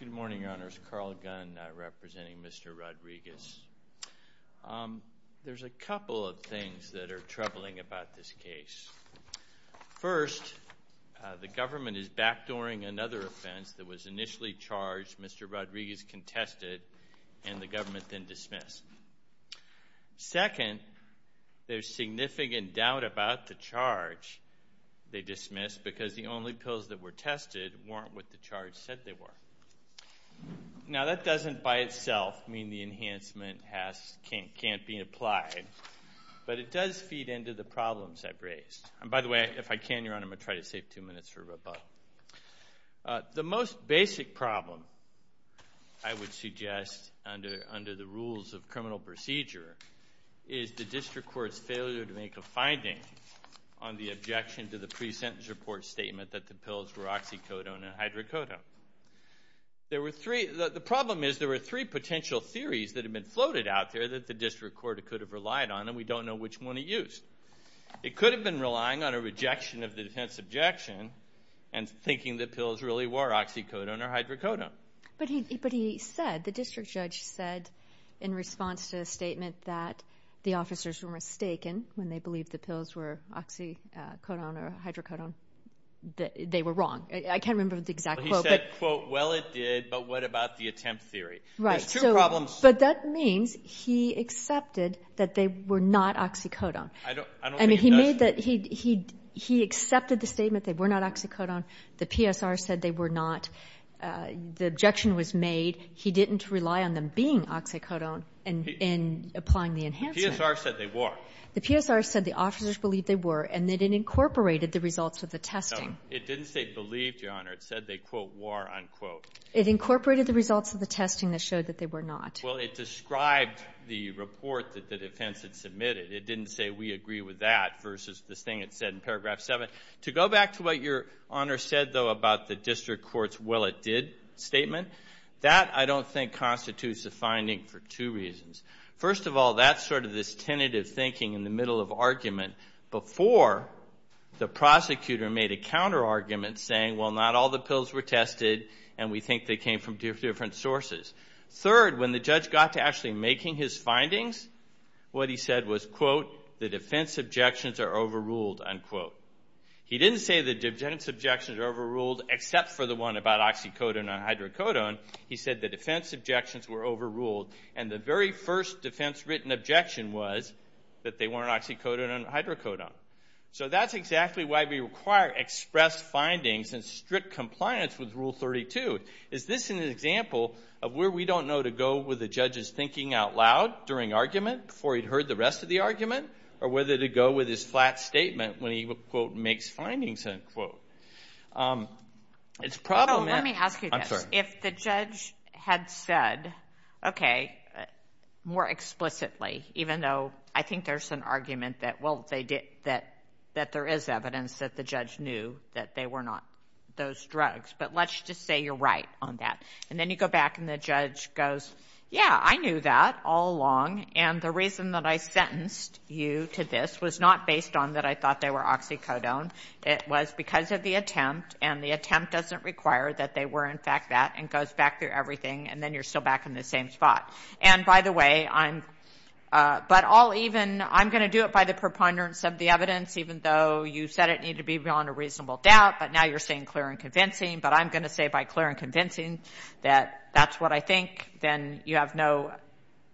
Good morning, Your Honors. Carl Gunn, representing Mr. Rodriguez. There's a couple of things that are troubling about this case. First, the government is backdooring another offense that was initially charged, Mr. Rodriguez contested, and the government then dismissed. Second, there's significant doubt about the charge they dismissed because the only pills that were tested weren't what the charge said they were. Now, that doesn't by itself mean the enhancement can't be applied, but it does feed into the problems I've raised. By the way, if I can, Your Honor, I'm going to try to save two minutes for rebuttal. The most is the district court's failure to make a finding on the objection to the pre-sentence report statement that the pills were oxycodone and hydrocodone. The problem is there were three potential theories that have been floated out there that the district court could have relied on, and we don't know which one it used. It could have been relying on a rejection of the defense objection and thinking the pills really were oxycodone or hydrocodone. But he said, the district judge said in response to a statement that the officers were mistaken when they believed the pills were oxycodone or hydrocodone, that they were wrong. I can't remember the exact quote. He said, quote, well, it did, but what about the attempt theory? Right. There's two problems. But that means he accepted that they were not oxycodone. I don't think he does. He said that he accepted the statement they were not oxycodone. The PSR said they were not. The objection was made. He didn't rely on them being oxycodone in applying the enhancement. The PSR said they were. The PSR said the officers believed they were, and that it incorporated the results of the testing. No, it didn't say believed, Your Honor. It said they, quote, were, unquote. It incorporated the results of the testing that showed that they were not. Well, it described the report that the defense had submitted. It didn't say we agree with that versus this thing it said in paragraph 7. To go back to what Your Honor said, though, about the district court's will it did statement, that, I don't think, constitutes a finding for two reasons. First of all, that's sort of this tentative thinking in the middle of argument before the prosecutor made a counterargument saying, well, not all the pills were tested, and we think they came from different sources. Third, when the judge got to actually making his findings, what he said was, quote, the defense objections are overruled, unquote. He didn't say the defense objections are overruled except for the one about oxycodone and hydrocodone. He said the defense objections were overruled, and the very first defense written objection was that they weren't oxycodone and hydrocodone. So that's exactly why we require express findings and strict compliance with Rule 32. Is this an example of where we don't know to go with the judge's thinking out loud during argument before he'd heard the rest of the argument, or whether to go with his flat statement when he, quote, makes findings, unquote? It's probably... Oh, let me ask you this. I'm sorry. If the judge had said, okay, more explicitly, even though I think there's an argument that, well, that there is evidence that the judge knew that they were not those drugs, but let's just say you're right on that. And then you go back and the judge goes, yeah, I knew that all along, and the reason that I sentenced you to this was not based on that I thought they were oxycodone. It was because of the attempt, and the attempt doesn't require that they were in fact that, and goes back through everything, and then you're still back in the same spot. And by the way, I'm... But I'll even... I'm going to do it by the preponderance of the evidence, even though you said it needed to be beyond a reasonable doubt, but now you're saying clear and convincing, but I'm going to say by clear and convincing that that's what I think, then you have no...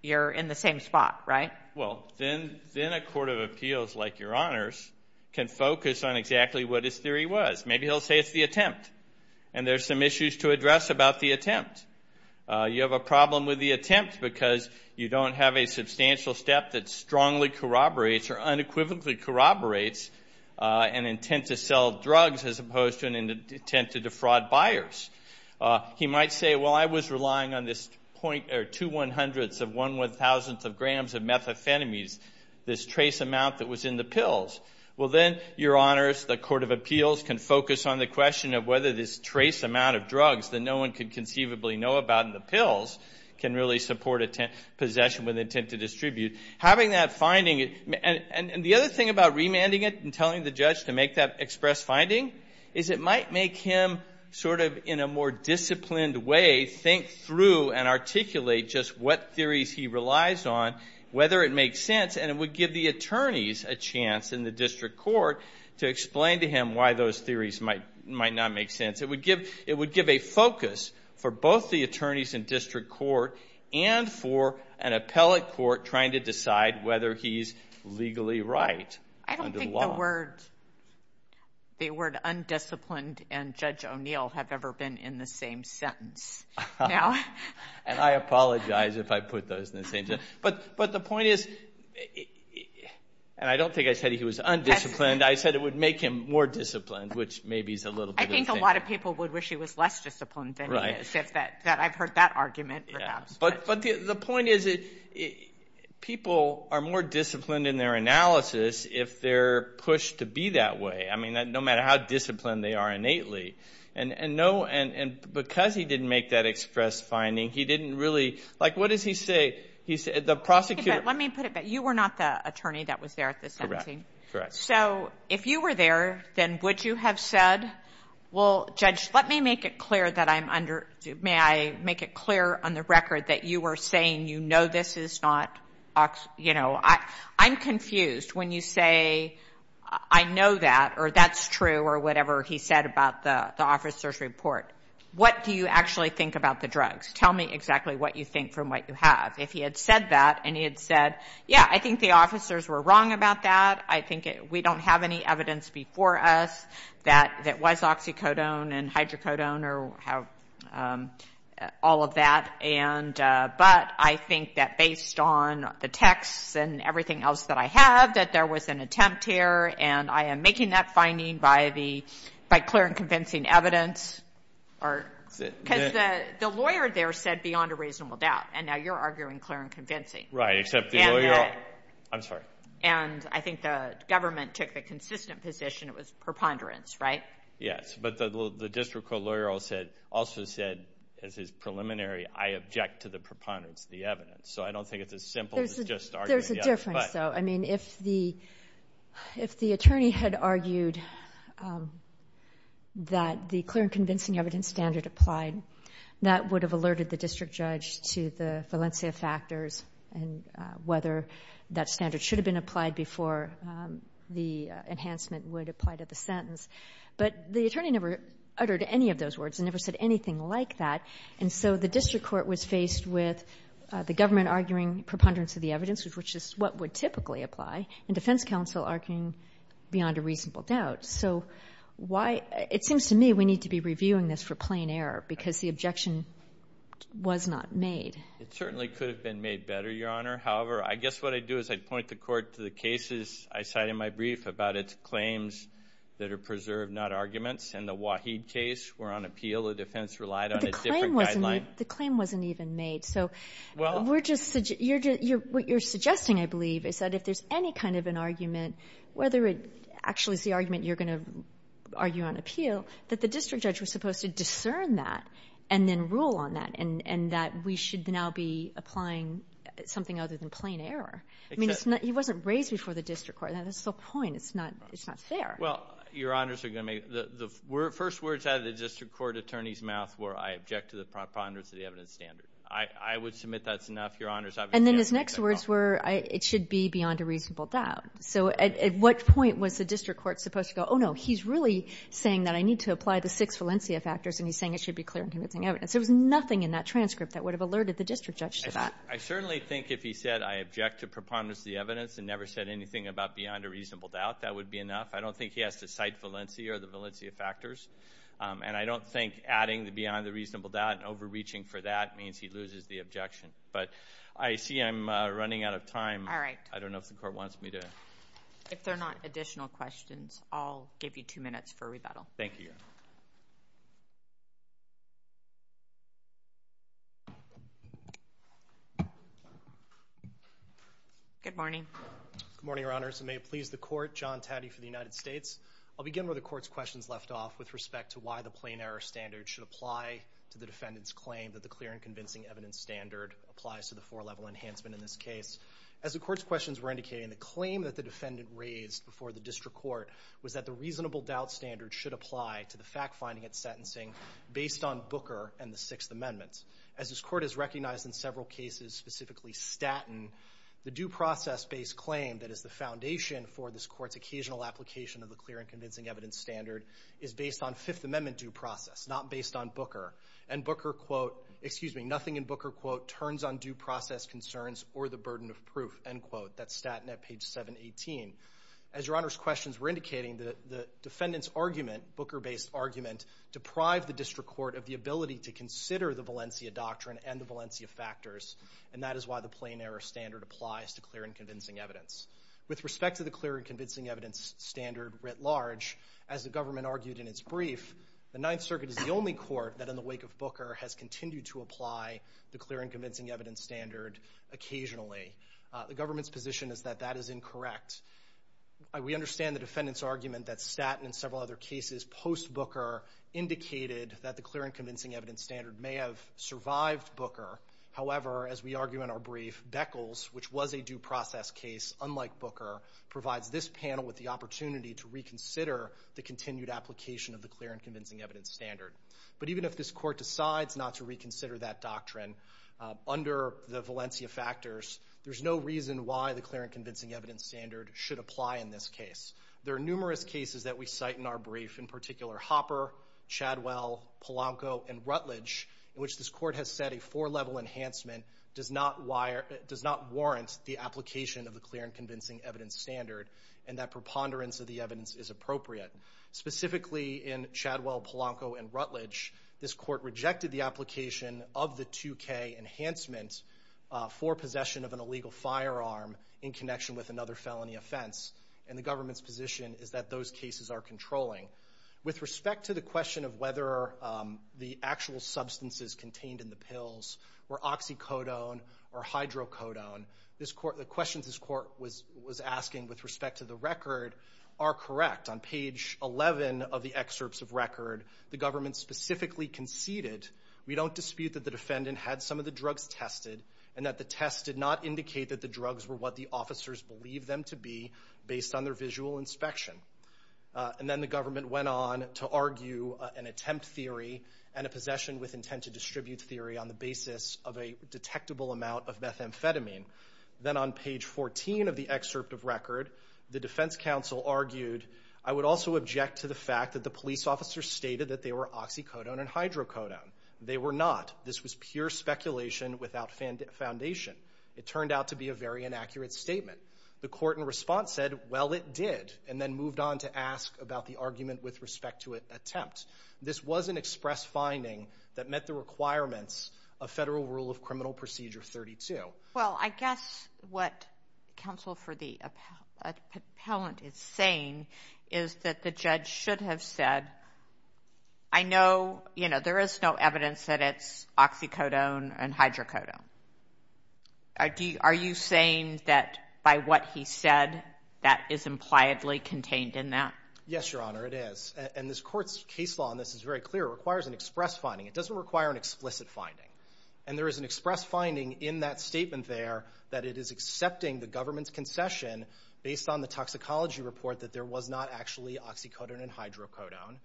You're in the same spot, right? Well, then a court of appeals like Your Honors can focus on exactly what his theory was. Maybe he'll say it's the attempt, and there's some issues to address about the attempt. You have a problem with the attempt because you don't have a substantial step that strongly corroborates or unequivocally corroborates an intent to sell drugs as opposed to an intent to defraud buyers. He might say, well, I was relying on this point, or two one-hundredths of one one-thousandth of grams of methamphetamines, this trace amount that was in the pills. Well, then Your Honors, the court of appeals can focus on the question of whether this trace amount of drugs that no one could conceivably know about in the pills can really support a possession with intent to distribute. Having that finding... And the other thing about remanding it and telling the judge to make that express finding is it might make him sort of, in a more disciplined way, think through and articulate just what theories he relies on, whether it makes sense, and it would give the attorneys a chance in the district court to explain to him why those theories might not make sense. It would give a focus for both the attorneys in district court and for an appellate court trying to decide whether he's legally right under the law. I don't think the word undisciplined and Judge O'Neill have ever been in the same sentence. And I apologize if I put those in the same sentence. But the point is, and I don't think I said he was undisciplined, I said it would make him more disciplined, which maybe is a little bit of a thing. I think a lot of people would wish he was less disciplined than he is. I've heard that argument, perhaps. But the point is, people are more disciplined in their analysis if they're pushed to be that way. I mean, no matter how disciplined they are innately. And because he didn't make that express finding, he didn't really, like, what does he say? The prosecutor... Let me put it back. You were not the attorney that was there at the sentencing. Correct. So if you were there, then would you have said, well, Judge, let me make it clear that you were saying, you know this is not, you know, I'm confused when you say, I know that, or that's true, or whatever he said about the officer's report. What do you actually think about the drugs? Tell me exactly what you think from what you have. If he had said that, and he had said, yeah, I think the officers were wrong about that. I think we don't have any evidence before us that it was oxycodone and hydrocodone or how all of that, and, but I think that based on the texts and everything else that I have, that there was an attempt here, and I am making that finding by the, by clear and convincing evidence. Or... Because the lawyer there said beyond a reasonable doubt, and now you're arguing clear and convincing. Right. Except the lawyer... And that... I'm sorry. And I think the government took the consistent position, it was preponderance, right? Yes. But the district court lawyer also said, as his preliminary, I object to the preponderance of the evidence. So, I don't think it's as simple as just arguing, yeah, but... There's a difference though. I mean, if the attorney had argued that the clear and convincing evidence standard applied, that would have alerted the district judge to the Valencia factors and whether that standard should have been applied before the enhancement would apply to the sentence. But the attorney never uttered any of those words and never said anything like that. And so, the district court was faced with the government arguing preponderance of the evidence, which is what would typically apply, and defense counsel arguing beyond a reasonable doubt. So, why... It seems to me we need to be reviewing this for plain error because the objection was not made. It certainly could have been made better, Your Honor. However, I guess what I'd do is I'd point the court to the cases I cite in my brief about its claims that are preserved, not arguments, and the Waheed case were on appeal. The defense relied on a different guideline. The claim wasn't even made. So, what you're suggesting, I believe, is that if there's any kind of an argument, whether it actually is the argument you're going to argue on appeal, that the district judge was supposed to discern that and then rule on that, and that we should now be applying something other than plain error. I mean, he wasn't raised before the district court. That's the point. It's not fair. Well, Your Honors, the first words out of the district court attorney's mouth were, I object to the preponderance of the evidence standard. I would submit that's enough, Your Honors. And then his next words were, it should be beyond a reasonable doubt. So, at what point was the district court supposed to go, oh, no, he's really saying that I need to apply the six Valencia factors, and he's saying it should be clear and convincing evidence. There was nothing in that transcript that would have alerted the district judge to that. I certainly think if he said, I object to preponderance of the evidence and never said anything about beyond a reasonable doubt, that would be enough. I don't think he has to cite Valencia or the Valencia factors. And I don't think adding the beyond a reasonable doubt and overreaching for that means he loses the objection. But I see I'm running out of time. All right. I don't know if the court wants me to. If there are not additional questions, I'll give you two minutes for rebuttal. Thank you, Your Honor. Good morning. Good morning, Your Honors. And may it please the court, John Taddey for the United States. I'll begin where the court's questions left off with respect to why the plain error standard should apply to the defendant's claim that the clear and convincing evidence standard applies to the four-level enhancement in this case. As the court's questions were indicating, the claim that the defendant raised before the district court was that the reasonable doubt standard should apply to the fact-finding and sentencing based on Booker and the Sixth Amendment. As this court has recognized in several cases, specifically Statton, the due process-based claim that is the foundation for this court's occasional application of the clear and convincing evidence standard is based on Fifth Amendment due process, not based on Booker. And Booker, quote, excuse me, nothing in Booker, quote, turns on due process concerns or the burden of proof, end quote. That's Statton at page 718. As Your Honor's questions were indicating, the defendant's argument, Booker-based argument, deprived the district court of the ability to consider the Valencia doctrine and the Valencia factors, and that is why the plain error standard applies to clear and convincing evidence. With respect to the clear and convincing evidence standard writ large, as the government argued in its brief, the Ninth Circuit is the only court that in the wake of Booker has continued to apply the clear and convincing evidence standard occasionally. The government's position is that that is incorrect. We understand the defendant's argument that Statton and several other cases post-Booker indicated that the clear and convincing evidence standard may have survived Booker. However, as we argue in our brief, Beckles, which was a due process case unlike Booker, provides this panel with the opportunity to reconsider the continued application of the clear and convincing evidence standard. But even if this court decides not to reconsider that doctrine under the Valencia factors, there's no reason why the clear and convincing evidence standard should apply in this case. There are numerous cases that we cite in our brief, in particular Hopper, Chadwell, Polanco, and Rutledge, in which this court has said a four-level enhancement does not warrant the application of the clear and convincing evidence standard, and that preponderance of the evidence is appropriate. Specifically in Chadwell, Polanco, and Rutledge, this court rejected the application of the illegal firearm in connection with another felony offense, and the government's position is that those cases are controlling. With respect to the question of whether the actual substances contained in the pills were oxycodone or hydrocodone, the questions this court was asking with respect to the record are correct. On page 11 of the excerpts of record, the government specifically conceded, we don't The test did not indicate that the drugs were what the officers believed them to be based on their visual inspection. And then the government went on to argue an attempt theory and a possession with intent to distribute theory on the basis of a detectable amount of methamphetamine. Then on page 14 of the excerpt of record, the defense counsel argued, I would also object to the fact that the police officers stated that they were oxycodone and hydrocodone. They were not. This was pure speculation without foundation. It turned out to be a very inaccurate statement. The court in response said, well, it did, and then moved on to ask about the argument with respect to an attempt. This was an express finding that met the requirements of Federal Rule of Criminal Procedure 32. Well, I guess what counsel for the appellant is saying is that the judge should have said, I know, you know, there is no evidence that it's oxycodone and hydrocodone. Are you saying that by what he said, that is impliedly contained in that? Yes, Your Honor, it is. And this court's case law on this is very clear, it requires an express finding. It doesn't require an explicit finding. And there is an express finding in that statement there that it is accepting the government's that there was not actually oxycodone and hydrocodone,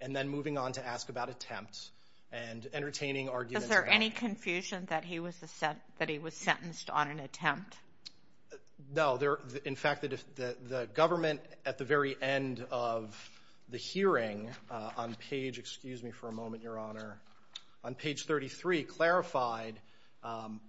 and then moving on to ask about attempt and entertaining arguments about it. Is there any confusion that he was sentenced on an attempt? No. In fact, the government at the very end of the hearing on page, excuse me for a moment, Your Honor, on page 33 clarified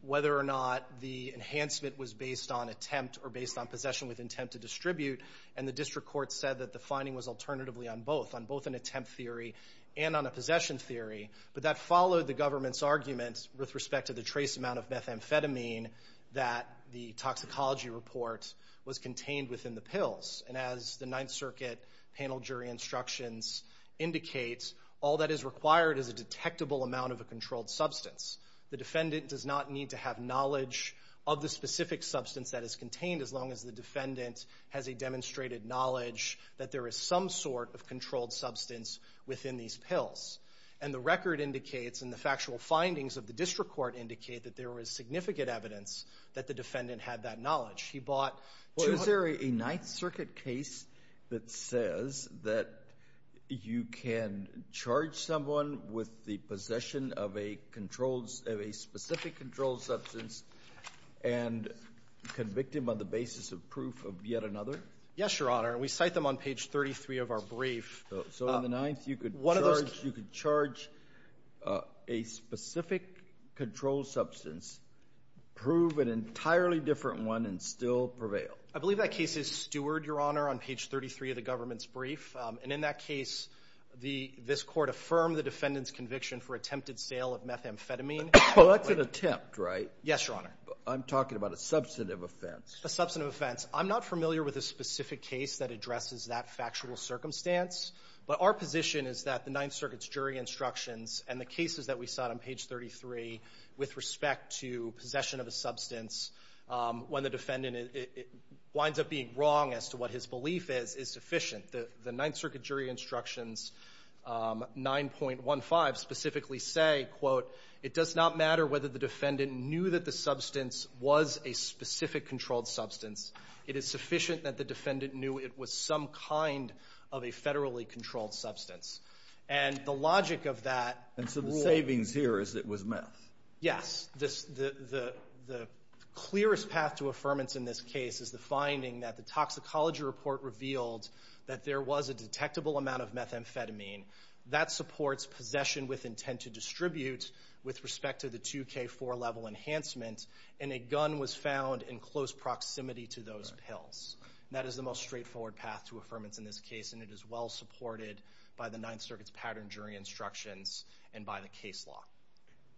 whether or not the enhancement was based on attempt or based on possession with intent to distribute, and the district court said that the finding was alternatively on both, on both an attempt theory and on a possession theory. But that followed the government's argument with respect to the trace amount of methamphetamine that the toxicology report was contained within the pills. And as the Ninth Circuit panel jury instructions indicate, all that is required is a detectable amount of a controlled substance. The defendant does not need to have knowledge of the specific substance that is contained as long as the defendant has a demonstrated knowledge that there is some sort of controlled substance within these pills. And the record indicates and the factual findings of the district court indicate that there was significant evidence that the defendant had that knowledge. He bought two hundred... Well, is there a Ninth Circuit case that says that you can charge someone with the possession of a specific controlled substance and convict him on the basis of proof of yet another? Yes, Your Honor. We cite them on page 33 of our brief. So in the Ninth you could charge a specific controlled substance, prove an entirely different one and still prevail? I believe that case is steward, Your Honor, on page 33 of the government's brief. And in that case, this court affirmed the defendant's conviction for attempted sale of methamphetamine. Well, that's an attempt, right? Yes, Your Honor. I'm talking about a substantive offense. A substantive offense. I'm not familiar with a specific case that addresses that factual circumstance. But our position is that the Ninth Circuit's jury instructions and the cases that we cite on page 33 with respect to possession of a substance, when the defendant winds up being wrong as to what his belief is, is sufficient. The Ninth Circuit jury instructions 9.15 specifically say, quote, it does not matter whether the defendant knew that the substance was a specific controlled substance. It is sufficient that the defendant knew it was some kind of a federally controlled substance. And the logic of that rule. And so the savings here is that it was meth? Yes. The clearest path to affirmance in this case is the finding that the toxicology report revealed that there was a detectable amount of methamphetamine. That supports possession with intent to distribute with respect to the 2K4 level enhancement. And a gun was found in close proximity to those pills. That is the most straightforward path to affirmance in this case. And it is well supported by the Ninth Circuit's pattern jury instructions and by the case law.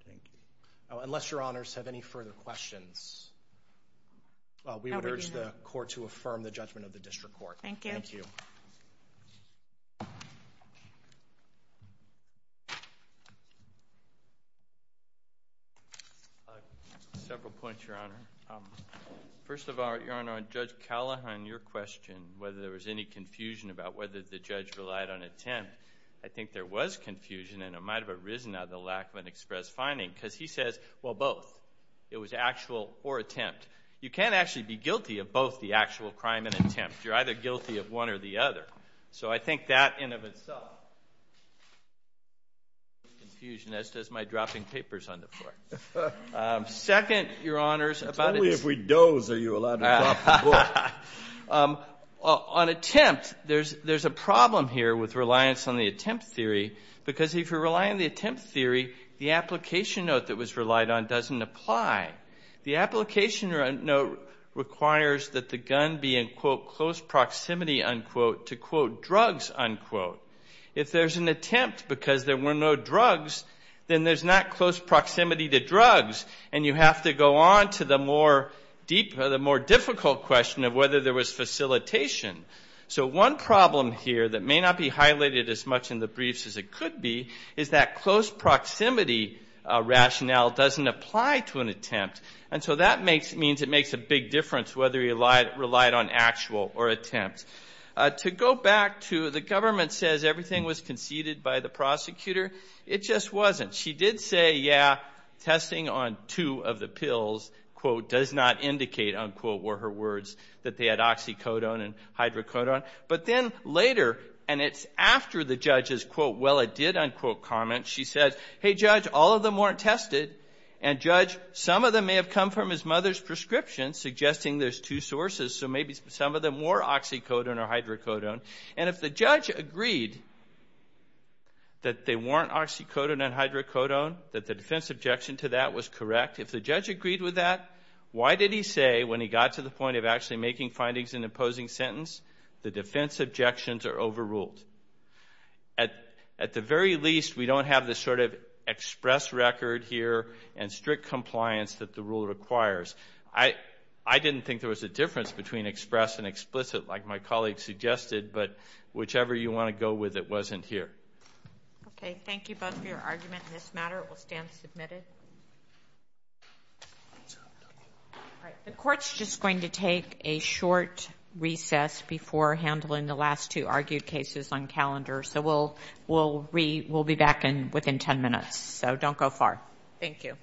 Thank you. Unless Your Honors have any further questions, we would urge the court to affirm the judgment of the district court. Thank you. Thank you. Several points, Your Honor. First of all, Your Honor, on Judge Callahan, your question, whether there was any confusion about whether the judge relied on attempt, I think there was confusion and it might have arisen out of the lack of an express finding because he says, well, both. It was actual or attempt. You can't actually be guilty of both the actual crime and attempt. You're either guilty of one or the other. So I think that in and of itself is confusion, as does my dropping papers on the floor. Second, Your Honors, about his- It's only if we doze are you allowed to drop the book. On attempt, there's a problem here with reliance on the attempt theory because if you're relying on the attempt theory, the application note that was relied on doesn't apply. The application note requires that the gun be in, quote, close proximity, unquote, to quote, drugs, unquote. If there's an attempt because there were no drugs, then there's not close proximity to drugs and you have to go on to the more difficult question of whether there was facilitation. So one problem here that may not be highlighted as much in the briefs as it could be is that close proximity rationale doesn't apply to an attempt. And so that means it makes a big difference whether you relied on actual or attempt. To go back to the government says everything was conceded by the prosecutor. It just wasn't. She did say, yeah, testing on two of the pills, quote, does not indicate, unquote, were her words that they had oxycodone and hydrocodone. But then later, and it's after the judge's, quote, well, it did, unquote, comment, she said, hey, judge, all of them weren't tested. And judge, some of them may have come from his mother's prescription suggesting there's two sources. So maybe some of them were oxycodone or hydrocodone. And if the judge agreed that they weren't oxycodone and hydrocodone, that the defense objection to that was correct, if the judge agreed with that, why did he say when he got to the point of actually making findings in the opposing sentence, the defense objections are overruled. At the very least, we don't have the sort of express record here and strict compliance that the rule requires. I didn't think there was a difference between express and explicit like my colleague suggested, but whichever you want to go with, it wasn't here. Okay. Thank you both for your argument in this matter. It will stand submitted. All right. The court's just going to take a short recess before handling the last two argued cases on calendar. So we'll be back within 10 minutes. So don't go far. Thank you.